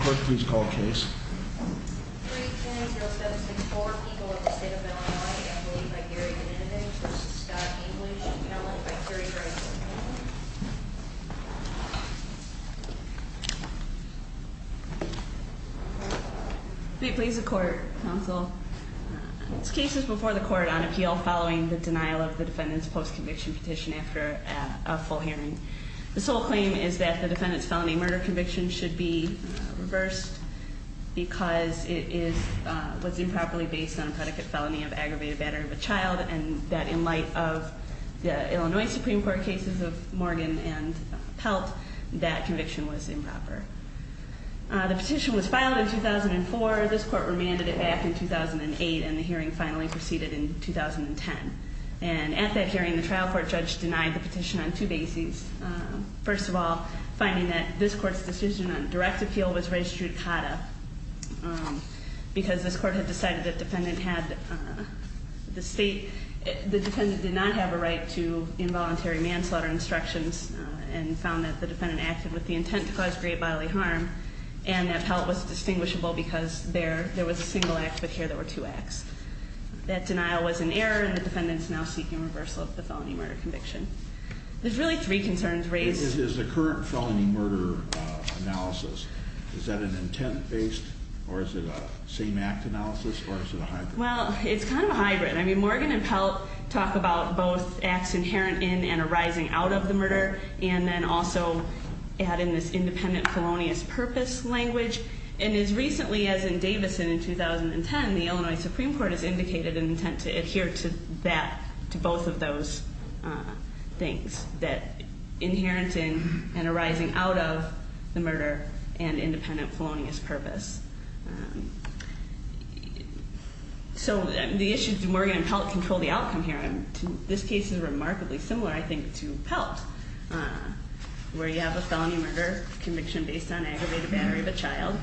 Court, please call the case. Please the court counsel cases before the court on appeal following the denial of the defendant's post conviction petition after a full hearing, the sole claim is that the defendant's felony murder conviction should be reversed because it was improperly based on a predicate felony of aggravated battery of a child and that in light of the Illinois Supreme Court cases of Morgan and Pelt, that conviction was improper. The petition was filed in 2004, this court remanded it back in 2008 and the hearing finally proceeded in 2010. And at that hearing, the trial court judge denied the petition on two bases. First of all, finding that this court's decision on direct appeal was registered CADA because this court had decided that the defendant did not have a right to involuntary manslaughter instructions and found that the defendant acted with the intent to cause great bodily harm. And that Pelt was distinguishable because there was a single act, but here there were two acts. That denial was an error and the defendant's now seeking reversal of the felony murder conviction. There's really three concerns raised. Is the current felony murder analysis, is that an intent based or is it a same act analysis or is it a hybrid? Well, it's kind of a hybrid. I mean, Morgan and Pelt talk about both acts inherent in and arising out of the murder and then also add in this independent felonious purpose language. And as recently as in Davison in 2010, the Illinois Supreme Court has indicated an intent to adhere to that, to both of those things. That inherent in and arising out of the murder and independent felonious purpose. So the issue is, do Morgan and Pelt control the outcome here? This case is remarkably similar, I think, to Pelt, where you have a felony murder conviction based on aggravated battery of a child.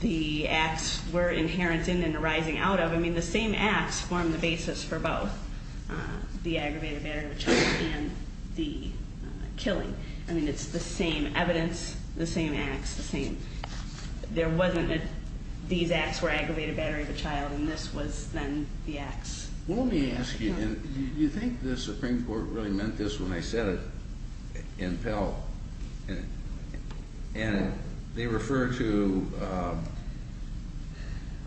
The acts were inherent in and arising out of, I mean the same acts form the basis for both the aggravated battery of a child and the killing. I mean, it's the same evidence, the same acts, the same. There wasn't a, these acts were aggravated battery of a child and this was then the acts. Well, let me ask you, do you think the Supreme Court really meant this when I said it in Pelt? And they refer to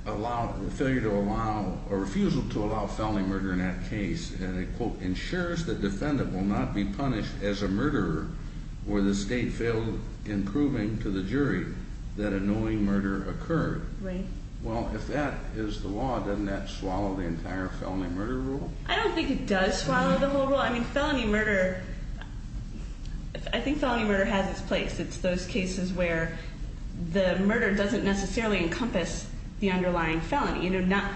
a refusal to allow felony murder in that case. And it quote, ensures the defendant will not be punished as a murderer, where the state failed in proving to the jury that annoying murder occurred. Right. Well, if that is the law, doesn't that swallow the entire felony murder rule? I don't think it does swallow the whole rule. I mean, felony murder, I think felony murder has its place. It's those cases where the murder doesn't necessarily encompass the underlying felony. Not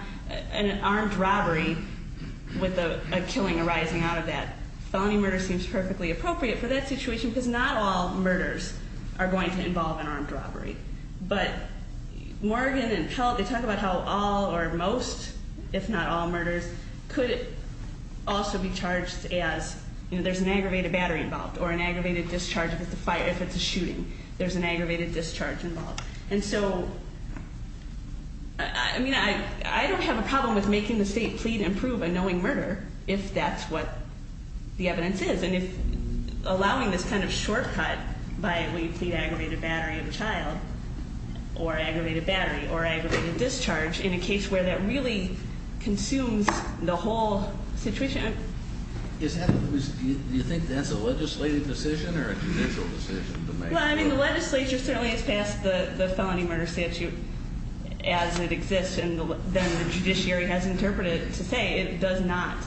an armed robbery with a killing arising out of that. Felony murder seems perfectly appropriate for that situation because not all murders are going to involve an armed robbery. But Morgan and Pelt, they talk about how all or most, if not all, murders could also be charged as, there's an aggravated battery involved or an aggravated discharge if it's a shooting, there's an aggravated discharge involved. And so, I mean, I don't have a problem with making the state plead and murder if that's what the evidence is. And if allowing this kind of shortcut by, well, you plead aggravated battery of a child or aggravated battery or aggravated discharge in a case where that really consumes the whole situation. Is that, do you think that's a legislative decision or a judicial decision to make? Well, I mean, the legislature certainly has passed the felony murder statute as it exists. And then the judiciary has interpreted it to say it does not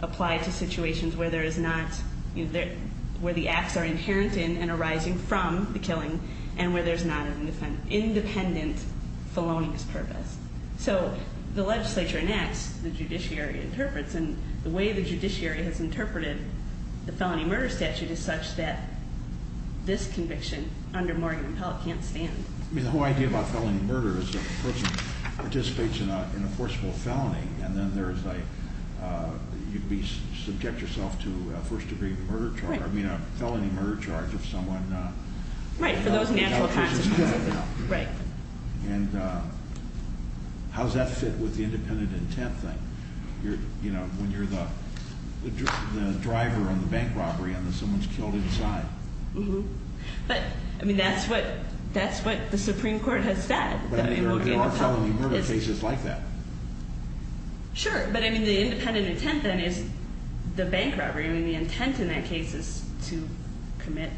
apply to situations where there is not, where the acts are inherent in and arising from the killing, and where there's not an independent felonious purpose. So the legislature enacts the judiciary interprets and the way the judiciary has interpreted the felony murder statute is such that this conviction under Morgan and Pelt can't stand. I mean, the whole idea about felony murder is that the person participates in a forcible felony and then there's a, you'd be subject yourself to a first degree murder charge, I mean, a felony murder charge if someone- Right, for those natural consequences. Right. And how does that fit with the independent intent thing? When you're the driver on the bank robbery and someone's killed inside. Mm-hm, but, I mean, that's what the Supreme Court has said. But there are felony murder cases like that. Sure, but I mean, the independent intent then is the bank robbery, I mean, the intent in that case is to commit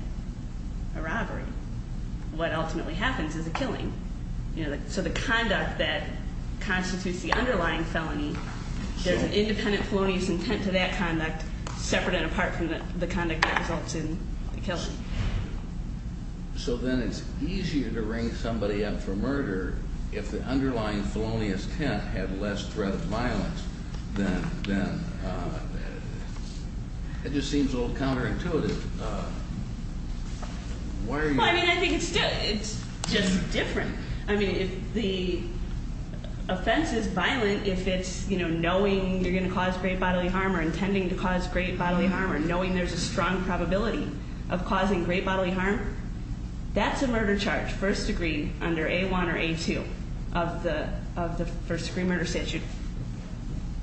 a robbery. What ultimately happens is a killing. So the conduct that constitutes the underlying felony, there's an independent felonious intent to that conduct, separate and apart from the conduct that results in the killing. So then it's easier to ring somebody up for murder if the underlying felonious intent had less threat of violence. Then, it just seems a little counterintuitive. Why are you- I mean, I think it's just different. I mean, if the offense is violent, if it's knowing you're going to cause great bodily harm or intending to cause great bodily harm or knowing there's a strong probability of causing great bodily harm, that's a murder charge, first degree under A1 or A2 of the first degree murder statute.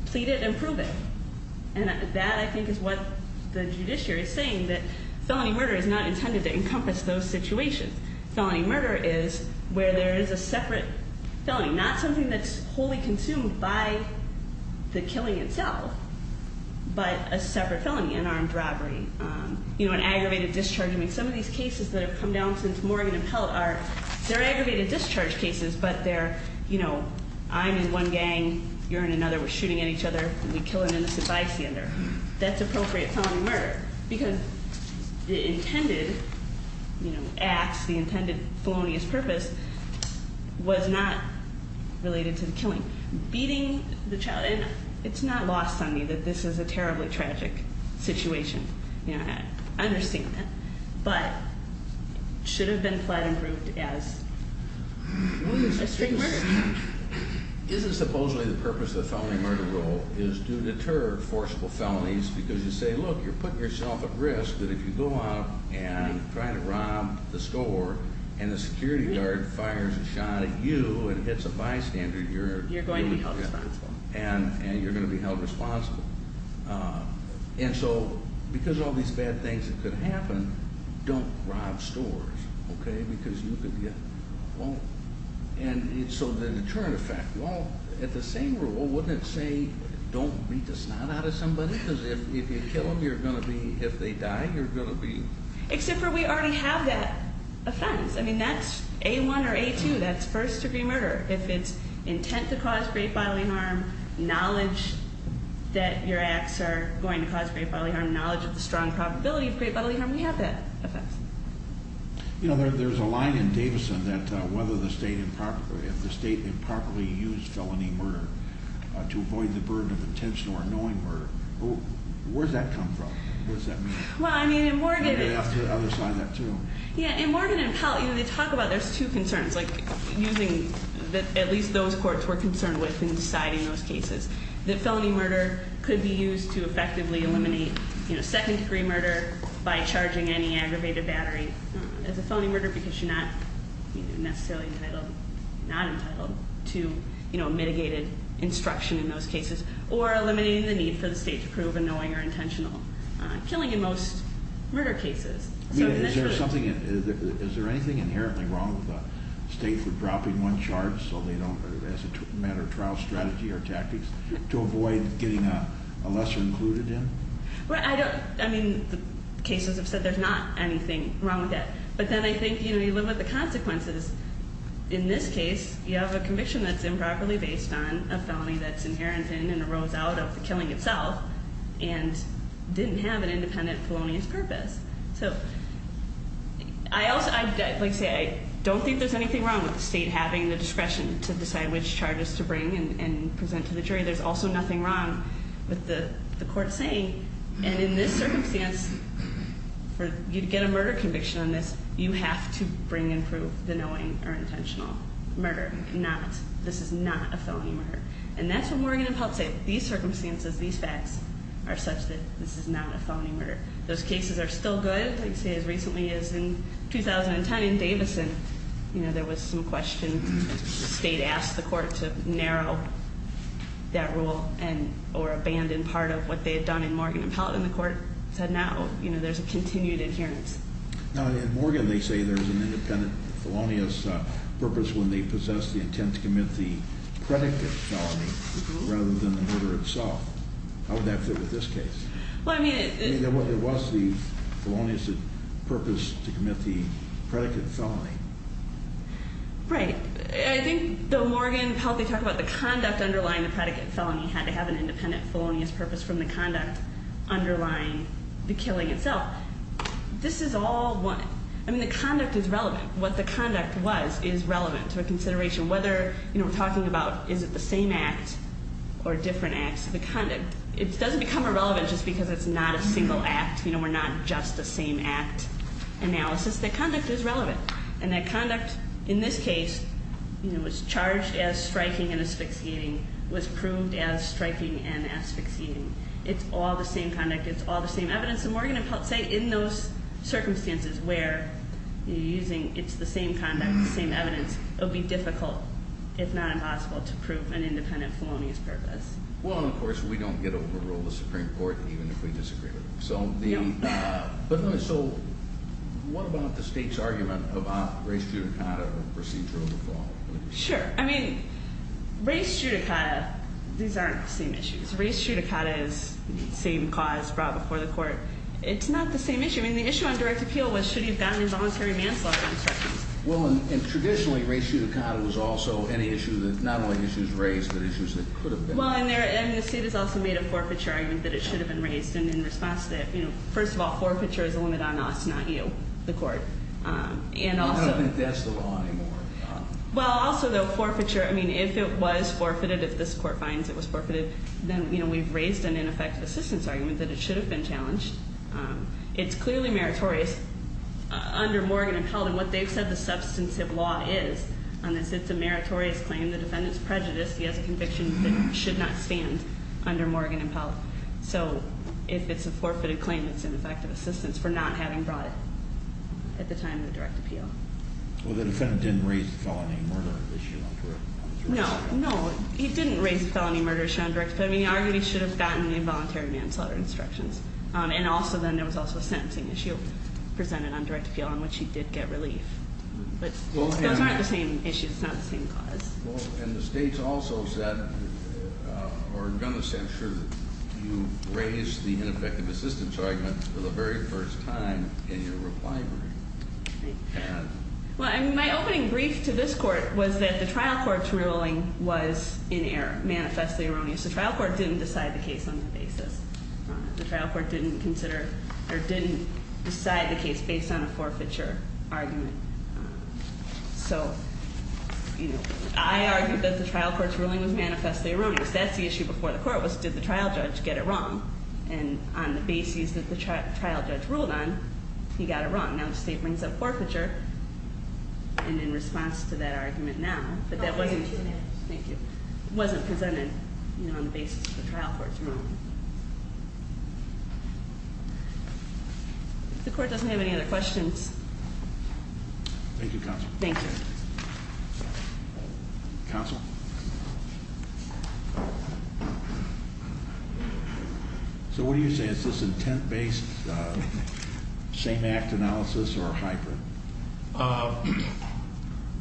Plead it and prove it. And that, I think, is what the judiciary is saying, that felony murder is not intended to encompass those situations. Felony murder is where there is a separate felony, not something that's wholly consumed by the killing itself, but a separate felony, an armed robbery, an aggravated discharge. I mean, some of these cases that have come down since Morgan and Pelt are, they're aggravated discharge cases, but they're I'm in one gang, you're in another, we're shooting at each other, and we kill an innocent bystander. That's appropriate felony murder, because the intended acts, the intended felonious purpose was not related to the killing. Beating the child, and it's not lost on me that this is a terribly tragic situation, I understand that. But should have been plead and proved as a straight murder. Isn't supposedly the purpose of felony murder rule is to deter forcible felonies because you say, look, you're putting yourself at risk that if you go out and try to rob the store and the security guard fires a shot at you and hits a bystander, you're- You're going to be held responsible. And you're going to be held responsible. And so, because of all these bad things that could happen, don't rob stores, okay, because you could get wronged. And so the deterrent effect, well, at the same rule, wouldn't it say don't beat the snot out of somebody? Because if you kill them, you're going to be, if they die, you're going to be- Except for we already have that offense. I mean, that's A1 or A2, that's first degree murder. If it's intent to cause great bodily harm, knowledge that your acts are going to cause great bodily harm, knowledge of the strong probability of great bodily harm, we have that offense. There's a line in Davidson that if the state improperly used felony murder to avoid the burden of intentional or annoying murder, where does that come from? What does that mean? Well, I mean, in Morgan- And they have to other side that too. Yeah, in Morgan and Pell, they talk about there's two concerns, like using, at least those courts were concerned with in deciding those cases. That felony murder could be used to effectively eliminate second degree murder by charging any aggravated battery as a felony murder, because you're not necessarily entitled, not entitled to mitigated instruction in those cases. Or eliminating the need for the state to prove annoying or intentional killing in most murder cases. So that's true. Is there anything inherently wrong with a state for dropping one charge so they don't, as a matter of trial strategy or tactics, to avoid getting a lesser included in? Well, I don't, I mean, the cases have said there's not anything wrong with that. But then I think you limit the consequences. In this case, you have a conviction that's improperly based on a felony that's inherent in and arose out of the killing itself, and didn't have an independent felonious purpose. So, I also, like I say, I don't think there's anything wrong with the state having the discretion to decide which charges to bring and present to the jury. There's also nothing wrong with the court saying. And in this circumstance, for you to get a murder conviction on this, you have to bring and prove the annoying or intentional murder, not, this is not a felony murder. And that's what Morgan and Peltz say. These circumstances, these facts are such that this is not a felony murder. Those cases are still good, I'd say as recently as in 2010 in Davidson. There was some question, the state asked the court to narrow that rule and or abandon part of what they had done in Morgan and Peltz, and the court said, no, there's a continued adherence. Now, in Morgan, they say there's an independent felonious purpose when they possess the intent to commit the predicate felony, rather than the murder itself. How would that fit with this case? Well, I mean- It was the felonious purpose to commit the predicate felony. Right. I think the Morgan and Peltz, they talk about the conduct underlying the predicate felony had to have an independent felonious purpose from the conduct underlying the killing itself. This is all one. I mean, the conduct is relevant. What the conduct was is relevant to a consideration, whether we're talking about is it the same act or different acts of the conduct. It doesn't become irrelevant just because it's not a single act. We're not just a same act analysis. The conduct is relevant, and that conduct, in this case, was charged as striking and asphyxiating, was proved as striking and asphyxiating. It's all the same conduct, it's all the same evidence, and Morgan and Peltz say in those circumstances where you're using it's the same conduct, the same evidence, it would be difficult, if not impossible, to prove an independent felonious purpose. Well, of course, we don't get overrule the Supreme Court even if we disagree with them. So what about the state's argument about race judicata or procedure of the fall? Sure, I mean, race judicata, these aren't the same issues. Race judicata is same cause brought before the court. It's not the same issue. I mean, the issue on direct appeal was should he have gotten a voluntary manslaughter instructions. Well, and traditionally, race judicata was also an issue that not only issues raised, but issues that could have been. Well, and the state has also made a forfeiture argument that it should have been raised. And in response to that, first of all, forfeiture is a limit on us, not you, the court. And also- I don't think that's the law anymore. Well, also, though, forfeiture, I mean, if it was forfeited, if this court finds it was forfeited, then we've raised an ineffective assistance argument that it should have been challenged. It's clearly meritorious under Morgan and Peltz, and what they've said the substantive law is on this, it's a meritorious claim. In the defendant's prejudice, he has a conviction that should not stand under Morgan and Peltz. So if it's a forfeited claim, it's an effective assistance for not having brought it at the time of the direct appeal. Well, the defendant didn't raise the felony murder issue on direct appeal. No, no, he didn't raise the felony murder issue on direct appeal. I mean, he arguably should have gotten the involuntary manslaughter instructions. And also then, there was also a sentencing issue presented on direct appeal on which he did get relief. But those aren't the same issues, it's not the same cause. And the state's also said, or done the censure, you raised the ineffective assistance argument for the very first time in your reply brief. Well, I mean, my opening brief to this court was that the trial court's ruling was in error, manifestly erroneous. The trial court didn't decide the case on the basis. The trial court didn't consider, or didn't decide the case based on a forfeiture argument. So, I argued that the trial court's ruling was manifestly erroneous. That's the issue before the court was, did the trial judge get it wrong? And on the basis that the trial judge ruled on, he got it wrong. Now the state brings up forfeiture, and in response to that argument now, but that wasn't presented on the basis of the trial court's ruling. The court doesn't have any other questions. Thank you, counsel. Thank you. Counsel? So what do you say, is this intent-based same act analysis or a hybrid?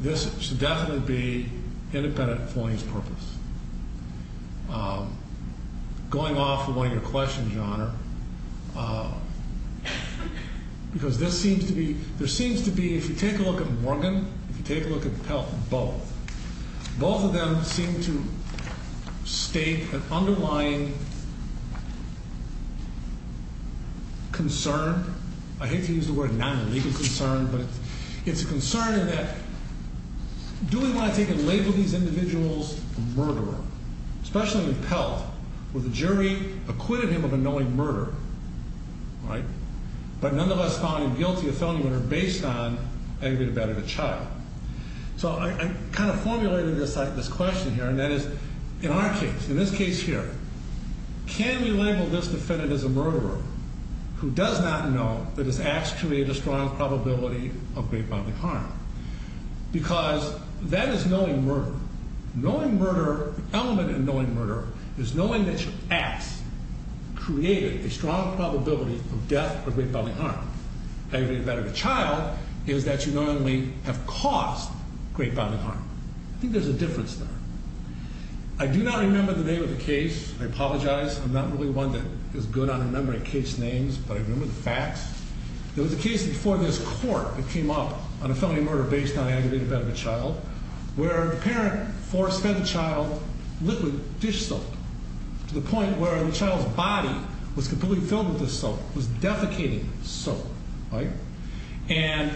This should definitely be independent of Floyd's purpose. Going off of one of your questions, Your Honor, because this seems to be, there seems to be, if you take a look at Morgan, if you take a look at Pelton, both. Both of them seem to state an underlying concern, I hate to use the word non-legal concern, but it's a concern that do we want to take and label these individuals a murderer? Especially in Pelton, where the jury acquitted him of a knowing murder, right? But nonetheless found him guilty of felony murder based on aggravated battery of a child. So I kind of formulated this question here, and that is, in our case, in this case here, can we label this defendant as a murderer who does not know that his acts create a strong probability of great bodily harm? Because that is knowing murder. Knowing murder, the element in knowing murder is knowing that your acts created a strong probability of death or great bodily harm. Aggravated battery of a child is that you not only have caused great bodily harm, I think there's a difference there. I do not remember the name of the case, I apologize, I'm not really one that is good on remembering case names, but I remember the facts. There was a case before this court that came up on a felony murder based on aggravated battery of a child, where a parent forced, fed the child liquid dish soap. To the point where the child's body was completely filled with this soap, was defecating soap, right? And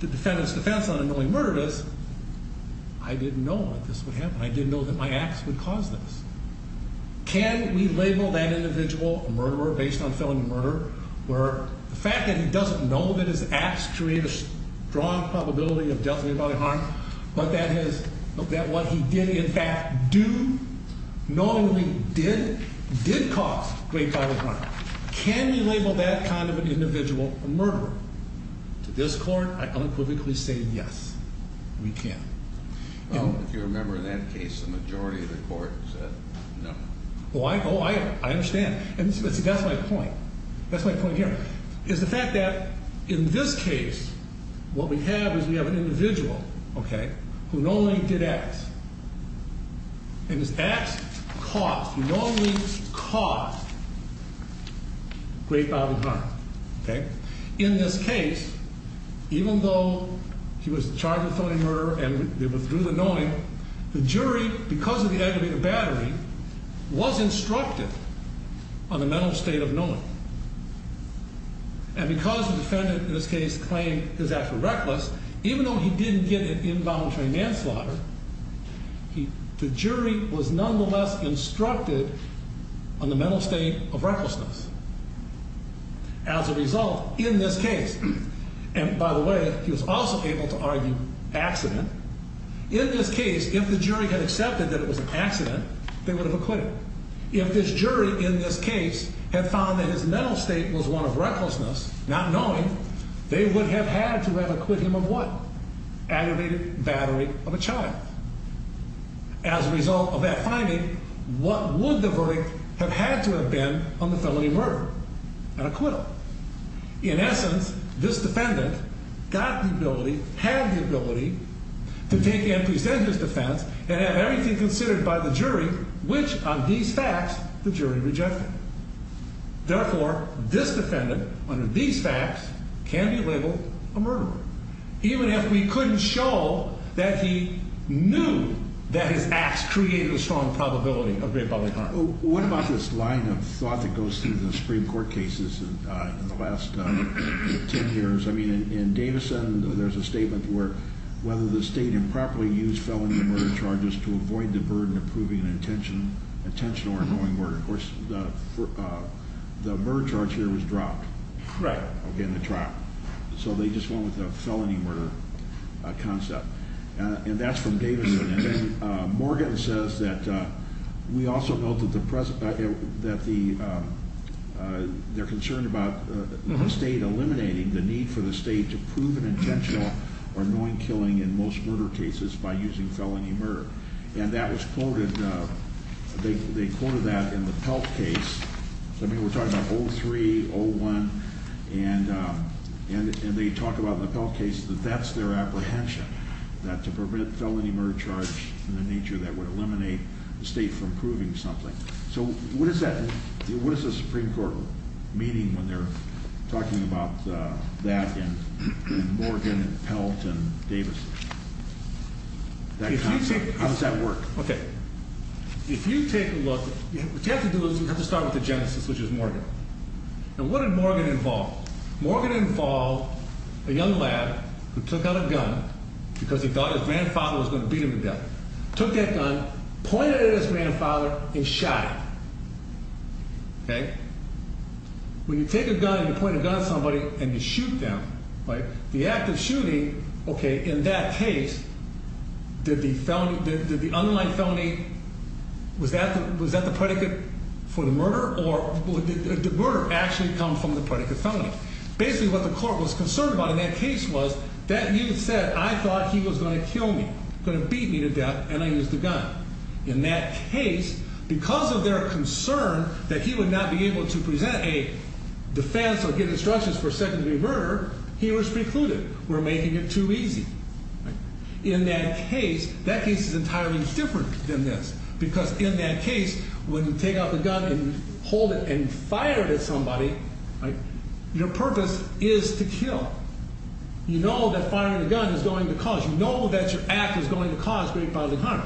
the defendant's defense on a knowing murder is, I didn't know that this would happen. I didn't know that my acts would cause this. Can we label that individual a murderer based on felony murder? Where the fact that he doesn't know that his acts create a strong probability of death or great bodily harm, but that what he did in fact do, knowingly did, did cause great bodily harm. Can we label that kind of an individual a murderer? To this court, I unequivocally say yes, we can. If you remember in that case, the majority of the court said no. I understand, and that's my point. That's my point here, is the fact that in this case, what we have is we have an individual, okay? Who knowingly did acts, and his acts caused, knowingly caused great bodily harm, okay? In this case, even though he was charged with felony murder and withdrew the knowing, the jury, because of the aggravated battery, was instructed on the mental state of knowing. And because the defendant, in this case, claimed his acts were reckless, even though he didn't get an involuntary manslaughter, the jury was nonetheless instructed on the mental state of recklessness. As a result, in this case, and by the way, he was also able to argue accident. In this case, if the jury had accepted that it was an accident, they would have acquitted. If this jury, in this case, had found that his mental state was one of recklessness, not knowing, they would have had to have acquitted him of what? Aggravated battery of a child. As a result of that finding, what would the verdict have had to have been on felony murder, an acquittal? In essence, this defendant got the ability, had the ability, to take and present his defense, and have everything considered by the jury, which on these facts, the jury rejected. Therefore, this defendant, under these facts, can be labeled a murderer. Even if we couldn't show that he knew that his acts created a strong probability of great bodily harm. What about this line of thought that goes through the Supreme Court cases in the last ten years? I mean, in Davison, there's a statement where whether the state improperly used felony murder charges to avoid the burden of proving an intentional or knowing murder, of course, the murder charge here was dropped. Correct. In the trial. So they just went with the felony murder concept. And that's from Davison. And then Morgan says that we also know that the, they're concerned about the state eliminating the need for the state to prove an intentional or knowing killing in most murder cases by using felony murder. And that was quoted, they quoted that in the Pelt case. So I mean, we're talking about 03, 01, and they talk about the Pelt case that that's their apprehension. That to prevent felony murder charge in the nature that would eliminate the state from proving something. So what does that, what does the Supreme Court meeting when they're talking about that and Morgan and Pelt and Davison, that concept, how does that work? Okay, if you take a look, what you have to do is you have to start with the genesis, which is Morgan. And what did Morgan involve? Morgan involved a young lad who took out a gun because he thought his grandfather was going to beat him to death. Took that gun, pointed it at his grandfather, and shot him, okay? When you take a gun and you point a gun at somebody and you shoot them, right? The act of shooting, okay, in that case, did the felon, did the underlying felony, was that the predicate for the murder, or did the murder actually come from the predicate felony? Basically, what the court was concerned about in that case was, that youth said, I thought he was going to kill me, going to beat me to death, and I used the gun. In that case, because of their concern that he would not be able to present a defense or give instructions for secondary murder, he was precluded, we're making it too easy, right? In that case, that case is entirely different than this. Because in that case, when you take out the gun and hold it and fire it at somebody, your purpose is to kill. You know that firing a gun is going to cause, you know that your act is going to cause great bodily harm.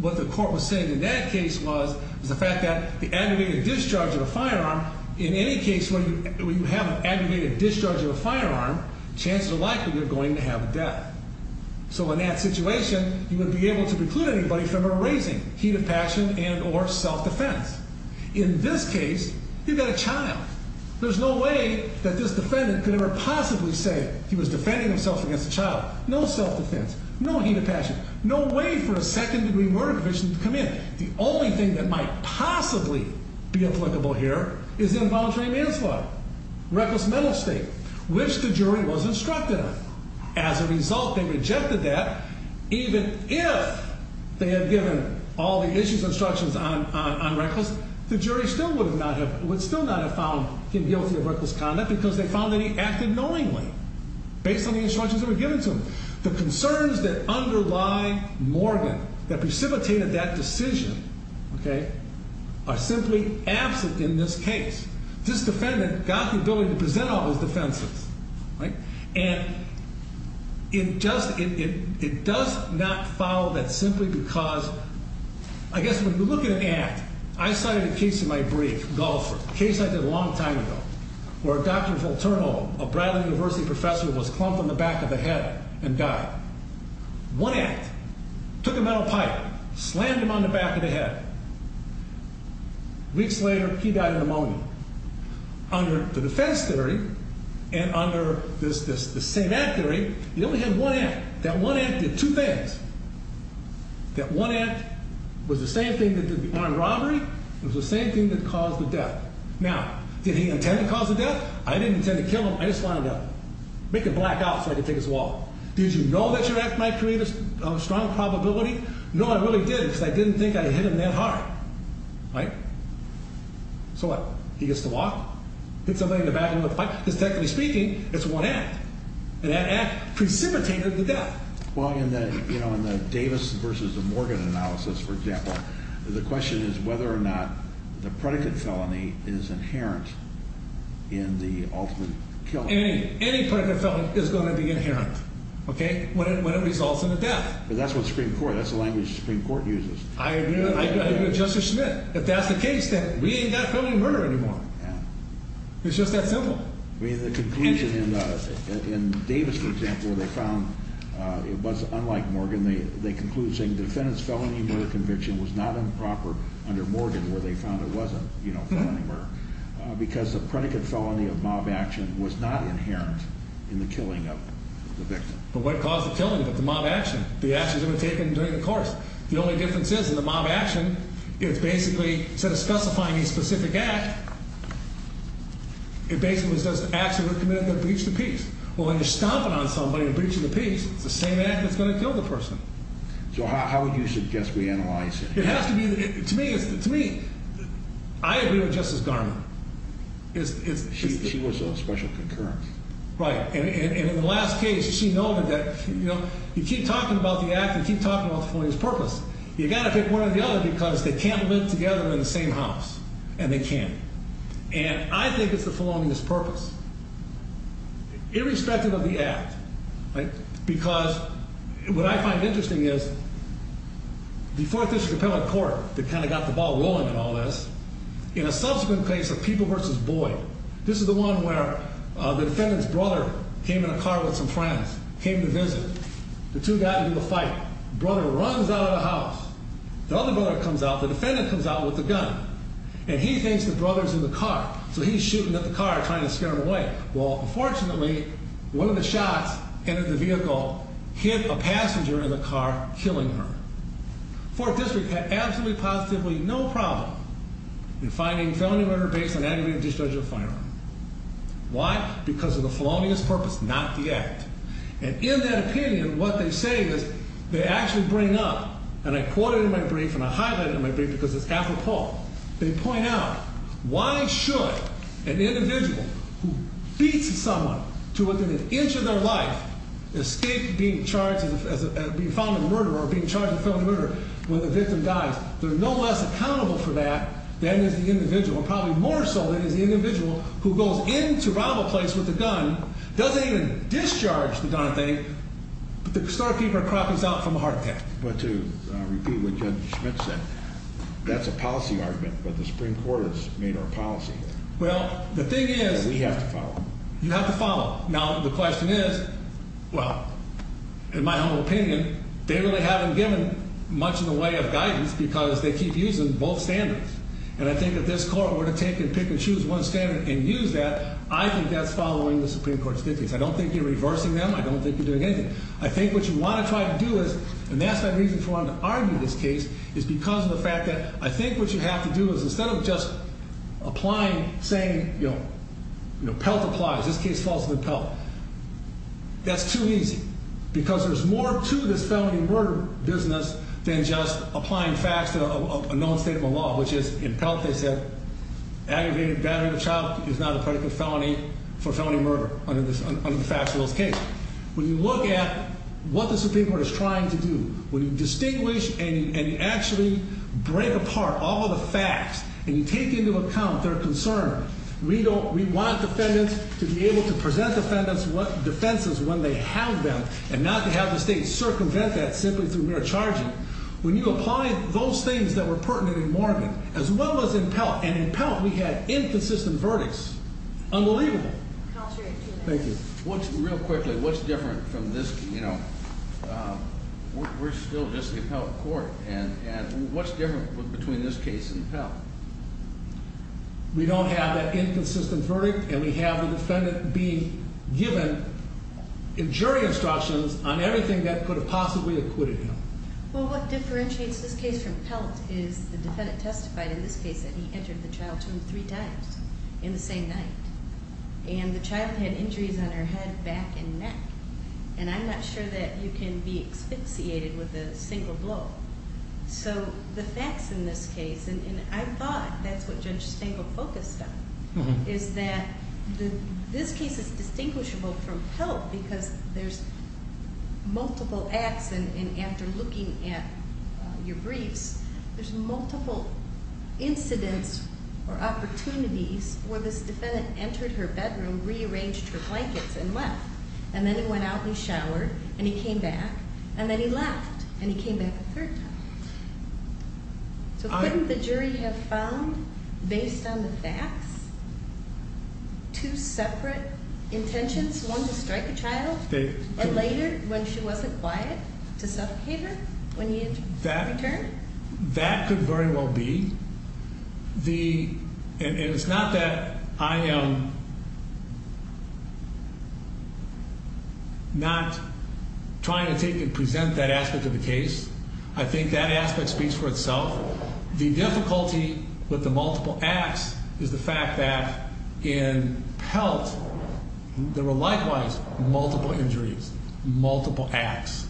What the court was saying in that case was, was the fact that the aggregated discharge of a firearm, in any case where you have an aggregated discharge of a firearm, chances are likely you're going to have death. So in that situation, you would be able to preclude anybody from erasing heat of passion and or self-defense. In this case, you've got a child. There's no way that this defendant could ever possibly say he was defending himself against a child. No self-defense, no heat of passion, no way for a second degree murder conviction to come in. The only thing that might possibly be applicable here is involuntary manslaughter. Reckless mental state, which the jury was instructed on. As a result, they rejected that. Even if they had given all the issues and instructions on reckless, the jury would still not have found him guilty of reckless conduct because they found that he acted knowingly. Based on the instructions that were given to him. The concerns that underlie Morgan, that precipitated that decision, okay, are simply absent in this case. This defendant got the ability to present all his defenses, right? And it does not follow that simply because, I guess when you look at an act, I cited a case in my brief, Golfer, a case I did a long time ago. Where Dr. Volturno, a Bradley University professor, was clumped on the back of the head and died. One act, took a metal pipe, slammed him on the back of the head. Weeks later, he died of pneumonia. Under the defense theory, and under the same act theory, he only had one act. That one act did two things. That one act was the same thing that did the armed robbery, it was the same thing that caused the death. Now, did he intend to cause the death? I didn't intend to kill him, I just wanted to make it black out so I could take his wallet. Did you know that your act might create a strong probability? No, I really didn't, because I didn't think I hit him that hard, right? So what, he gets to walk, hit somebody in the back of the head with a pipe, because technically speaking, it's one act. And that act precipitated the death. Well, in the Davis versus Morgan analysis, for example, the question is whether or not the predicate felony is inherent in the ultimate killing. Any predicate felony is going to be inherent, okay, when it results in the death. But that's what Supreme Court, that's the language the Supreme Court uses. I agree with Justice Schmitt. If that's the case, then we ain't got felony murder anymore. It's just that simple. I mean, the conclusion in Davis, for example, they found it was unlike Morgan. They conclude saying defendant's felony murder conviction was not improper under Morgan, where they found it wasn't, you know, felony murder. Because the predicate felony of mob action was not inherent in the killing of the victim. But what caused the killing of the mob action? The actions that were taken during the course. The only difference is in the mob action, it's basically, instead of specifying a specific act, it basically says acts that were committed that breached the peace. Well, when you're stomping on somebody and breaching the peace, it's the same act that's going to kill the person. So how would you suggest we analyze it? It has to be, to me, I agree with Justice Garment. She was a special concurrence. Right. And in the last case, she noted that, you know, you keep talking about the act, you keep talking about the felonious purpose. You got to pick one or the other because they can't live together in the same house, and they can't. And I think it's the felonious purpose, irrespective of the act, right? Because what I find interesting is the Fourth District Appellate Court that kind of got the ball rolling in all this, in a subsequent case of People v. Boyd, this is the one where the defendant's brother came in a car with some friends, came to visit. The two got into a fight. The brother runs out of the house. The other brother comes out. The defendant comes out with a gun. And he thinks the brother's in the car, so he's shooting at the car, trying to scare him away. Well, unfortunately, one of the shots entered the vehicle, hit a passenger in the car, killing her. Fourth District had absolutely positively no problem in finding felony murder based on aggravated discharge of a firearm. Why? Because of the felonious purpose, not the act. And in that opinion, what they say is they actually bring up, and I quote it in my brief, and I highlight it in my brief because it's apropos. They point out why should an individual who beats someone to within an inch of their life escape being charged as being found a murderer or being charged with felony murder when the victim dies? They're no less accountable for that than is the individual, and probably more so than is the individual who goes into rival place with a gun, doesn't even discharge the darn thing, but the storekeeper croppies out from a heart attack. But to repeat what Judge Schmidt said, that's a policy argument, but the Supreme Court has made our policy. Well, the thing is... We have to follow. You have to follow. Now, the question is, well, in my humble opinion, they really haven't given much in the way of guidance because they keep using both standards. And I think if this court were to take and pick and choose one standard and use that, I think that's following the Supreme Court's dictates. I don't think you're reversing them. I don't think you're doing anything. I think what you want to try to do is, and that's my reason for wanting to argue this case, is because of the fact that I think what you have to do is instead of just applying, saying, you know, PELT applies. This case falls under PELT. That's too easy because there's more to this felony murder business than just applying facts to a known state of the law, which is in PELT they said aggravated battery of a child is not a predicate for felony murder under the facts of this case. When you look at what the Supreme Court is trying to do, when you distinguish and you actually break apart all of the facts and you take into account their concern, we want defendants to be able to present defendants with defenses when they have them and not to have the state circumvent that simply through mere charging. When you apply those things that were pertinent in Morgan as well as in PELT, and in PELT we had inconsistent verdicts. Unbelievable. Thank you. Real quickly, what's different from this, you know, we're still just the PELT court and what's different between this case and PELT? We don't have that inconsistent verdict and we have the defendant being given jury instructions on everything that could have possibly acquitted him. Well, what differentiates this case from PELT is the defendant testified in this case that he entered the child's room three times in the same night. And the child had injuries on her head, back, and neck. And I'm not sure that you can be asphyxiated with a single blow. So the facts in this case, and I thought that's what Judge Stengel focused on, is that this case is distinguishable from PELT because there's multiple acts and after looking at your briefs, there's multiple incidents or opportunities where this defendant entered her bedroom, rearranged her blankets, and left. And then he went out and showered and he came back and then he left and he came back a third time. So couldn't the jury have found, based on the facts, two separate intentions? One to strike a child or later when she wasn't quiet, to suffocate her when he returned? That could very well be. And it's not that I am not trying to take and present that aspect of the case. I think that aspect speaks for itself. The difficulty with the multiple acts is the fact that in PELT, there were likewise multiple injuries, multiple acts.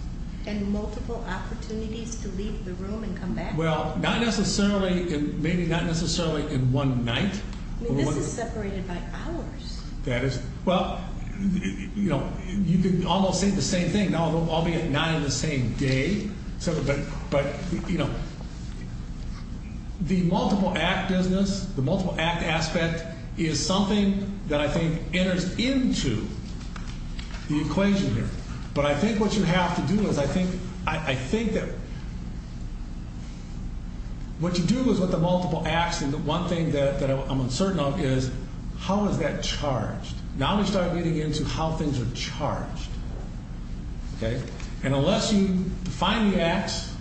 And multiple opportunities to leave the room and come back? Well, not necessarily, maybe not necessarily in one night. I mean, this is separated by hours. That is, well, you know, you could almost say the same thing, albeit not in the same day. But, you know, the multiple act business, the multiple act aspect, is something that I think enters into the equation here. But I think what you have to do is I think that what you do is with the multiple acts and the one thing that I'm uncertain of is how is that charged? Now we start getting into how things are charged. And unless you define the acts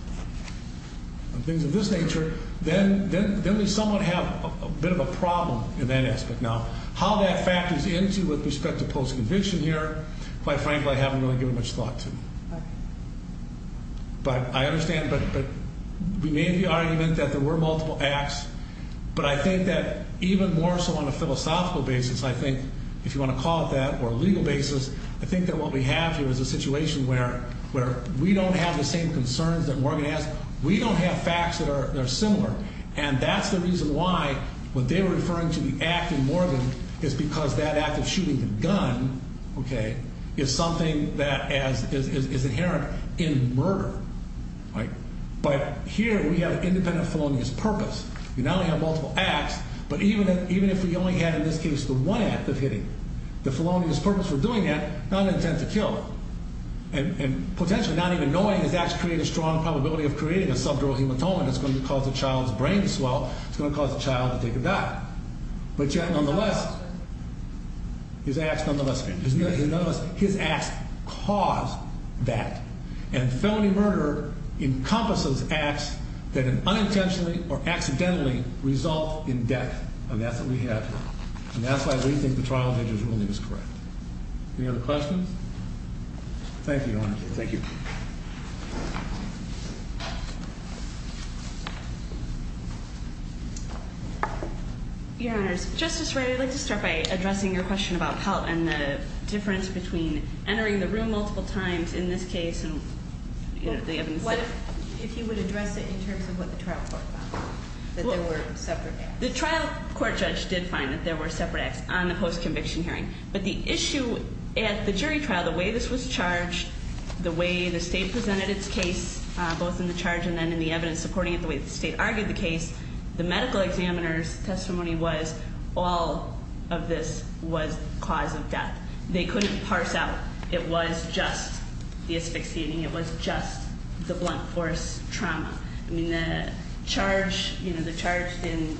and things of this nature, then we somewhat have a bit of a problem in that aspect. Now, how that factors into with respect to post-conviction here, quite frankly, I haven't really given much thought to. But I understand, but we made the argument that there were multiple acts. But I think that even more so on a philosophical basis, I think, if you want to call it that, or a legal basis, I think that what we have here is a situation where we don't have the same concerns that Morgan has. We don't have facts that are similar. And that's the reason why when they were referring to the act in Morgan, it's because that act of shooting the gun is something that is inherent in murder. But here we have an independent felonious purpose. You not only have multiple acts, but even if we only had in this case the one act of hitting, the felonious purpose for doing that, not an intent to kill. And potentially not even knowing is actually creating a strong probability of creating a subdural hematoma that's going to cause the child's brain to swell. It's going to cause the child to take a die. But yet, nonetheless, his acts cause that. And felony murder encompasses acts that unintentionally or accidentally result in death. And that's what we have here. And that's why we think the trial judge's ruling is correct. Any other questions? Thank you, Your Honor. Thank you. Your Honors, Justice Wright, I'd like to start by addressing your question about Pelt and the difference between entering the room multiple times in this case and the evidence. What if he would address it in terms of what the trial court found, that there were separate acts? The trial court judge did find that there were separate acts on the post-conviction hearing. But the issue at the jury trial, the way this was charged, the way the state presented its case, both in the charge and then in the evidence supporting it, the way the state argued the case, the medical examiner's testimony was all of this was cause of death. They couldn't parse out. It was just the asphyxiating. It was just the blunt force trauma. I mean, the charge, you know, the charge in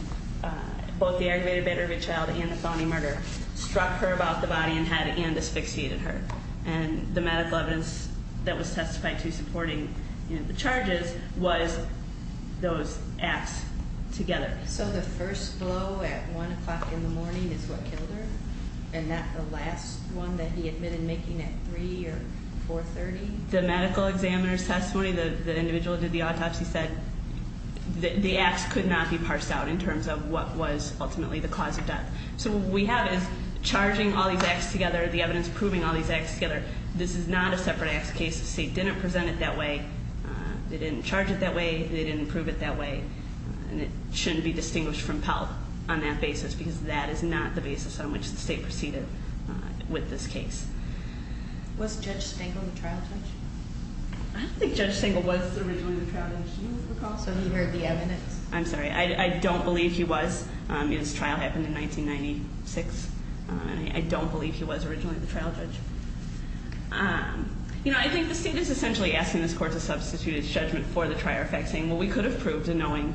both the aggravated murder of a child and the felony murder struck her about the body and had, and asphyxiated her. And the medical evidence that was testified to supporting the charges was those acts together. So the first blow at 1 o'clock in the morning is what killed her and not the last one that he admitted making at 3 or 4.30? The medical examiner's testimony, the individual that did the autopsy said the acts could not be parsed out in terms of what was ultimately the cause of death. So what we have is charging all these acts together, the evidence proving all these acts together. This is not a separate acts case. The state didn't present it that way. They didn't charge it that way. They didn't prove it that way. And it shouldn't be distinguished from Pell on that basis because that is not the basis on which the state proceeded with this case. Was Judge Stengel the trial judge? I don't think Judge Stengel was originally the trial judge. Do you recall? So he heard the evidence? I'm sorry. I don't believe he was. His trial happened in 1996. I don't believe he was originally the trial judge. You know, I think the state is essentially asking this court to substitute its judgment for the trier effect, saying, well, we could have proved a knowing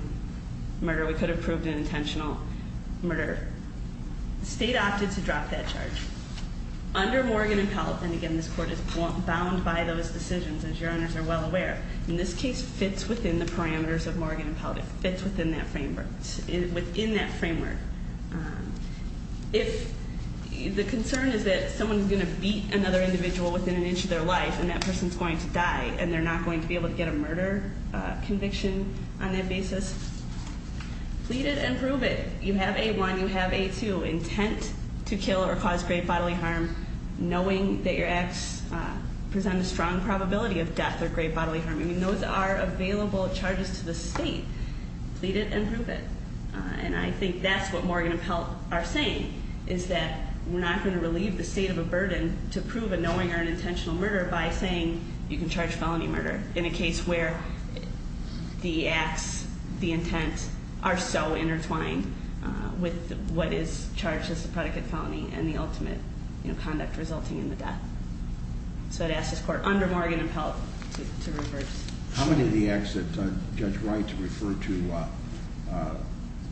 murder. We could have proved an intentional murder. The state opted to drop that charge. Under Morgan and Pell, and again, this court is bound by those decisions, as Your Honors are well aware. And this case fits within the parameters of Morgan and Pell. It fits within that framework. Within that framework. If the concern is that someone is going to beat another individual within an inch of their life and that person is going to die and they're not going to be able to get a murder conviction on that basis, plead it and prove it. You have A1. You have A2, intent to kill or cause grave bodily harm, knowing that your acts present a strong probability of death or grave bodily harm. I mean, those are available charges to the state. Plead it and prove it. And I think that's what Morgan and Pell are saying, is that we're not going to relieve the state of a burden to prove a knowing or an intentional murder by saying you can charge felony murder in a case where the acts, the intent, are so intertwined with what is charged as a predicate felony and the ultimate conduct resulting in the death. So I'd ask this Court, under Morgan and Pell, to reverse. How many of the acts that Judge Wright referred to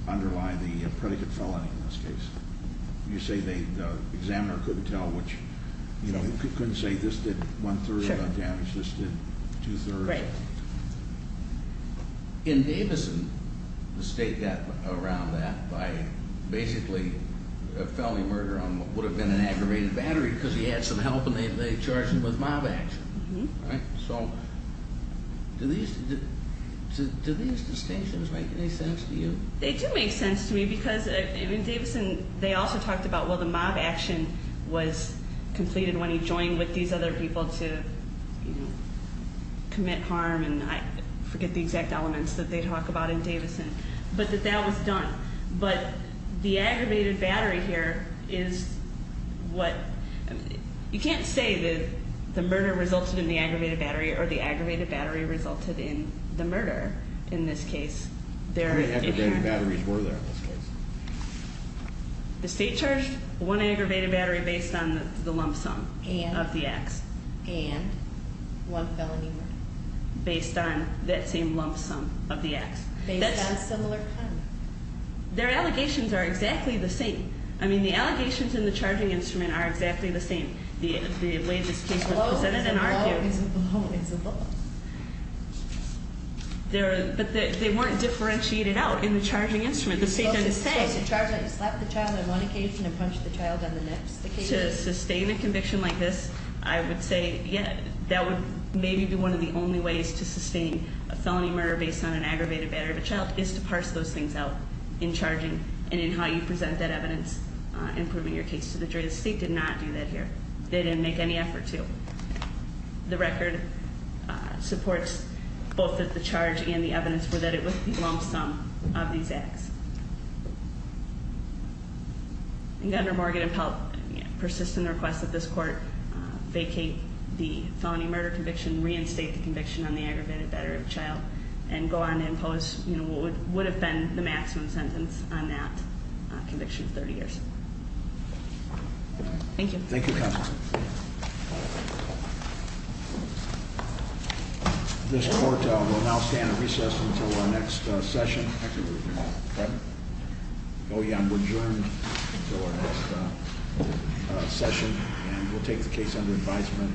underlie the predicate felony in this case? You say the examiner couldn't tell which, you know, couldn't say this did one-third of the damage, this did two-thirds. Right. In Davison, the state got around that by basically a felony murder on what would have been an aggravated battery because he had some help and they charged him with mob action. So do these distinctions make any sense to you? They do make sense to me because in Davison they also talked about, well, the mob action was completed when he joined with these other people to commit harm, and I forget the exact elements that they talk about in Davison, but that that was done. But the aggravated battery here is what, you can't say that the murder resulted in the aggravated battery or the aggravated battery resulted in the murder in this case. How many aggravated batteries were there in this case? The state charged one aggravated battery based on the lump sum of the acts. And one felony murder. Based on that same lump sum of the acts. Based on similar pun. Their allegations are exactly the same. I mean, the allegations in the charging instrument are exactly the same. The way this case was presented and argued. It's a blow, it's a blow. But they weren't differentiated out in the charging instrument. The state doesn't say. You slapped the child on one occasion and punched the child on the next occasion. To sustain a conviction like this, I would say that would maybe be one of the only ways to sustain a felony murder based on an aggravated battery of a child is to parse those things out in charging and in how you present that evidence in proving your case to the jury. The state did not do that here. They didn't make any effort to. The record supports both that the charge and the evidence were that it was the lump sum of these acts. And Governor Morgan and Pelt persist in their request that this court vacate the felony murder conviction. Reinstate the conviction on the aggravated battery of a child. And go on to impose what would have been the maximum sentence on that conviction of 30 years. Thank you. Thank you counsel. This court will now stand at recess until our next session. Oh yeah, I'm adjourned until our next session. And we'll take the case under advisement and render a decision.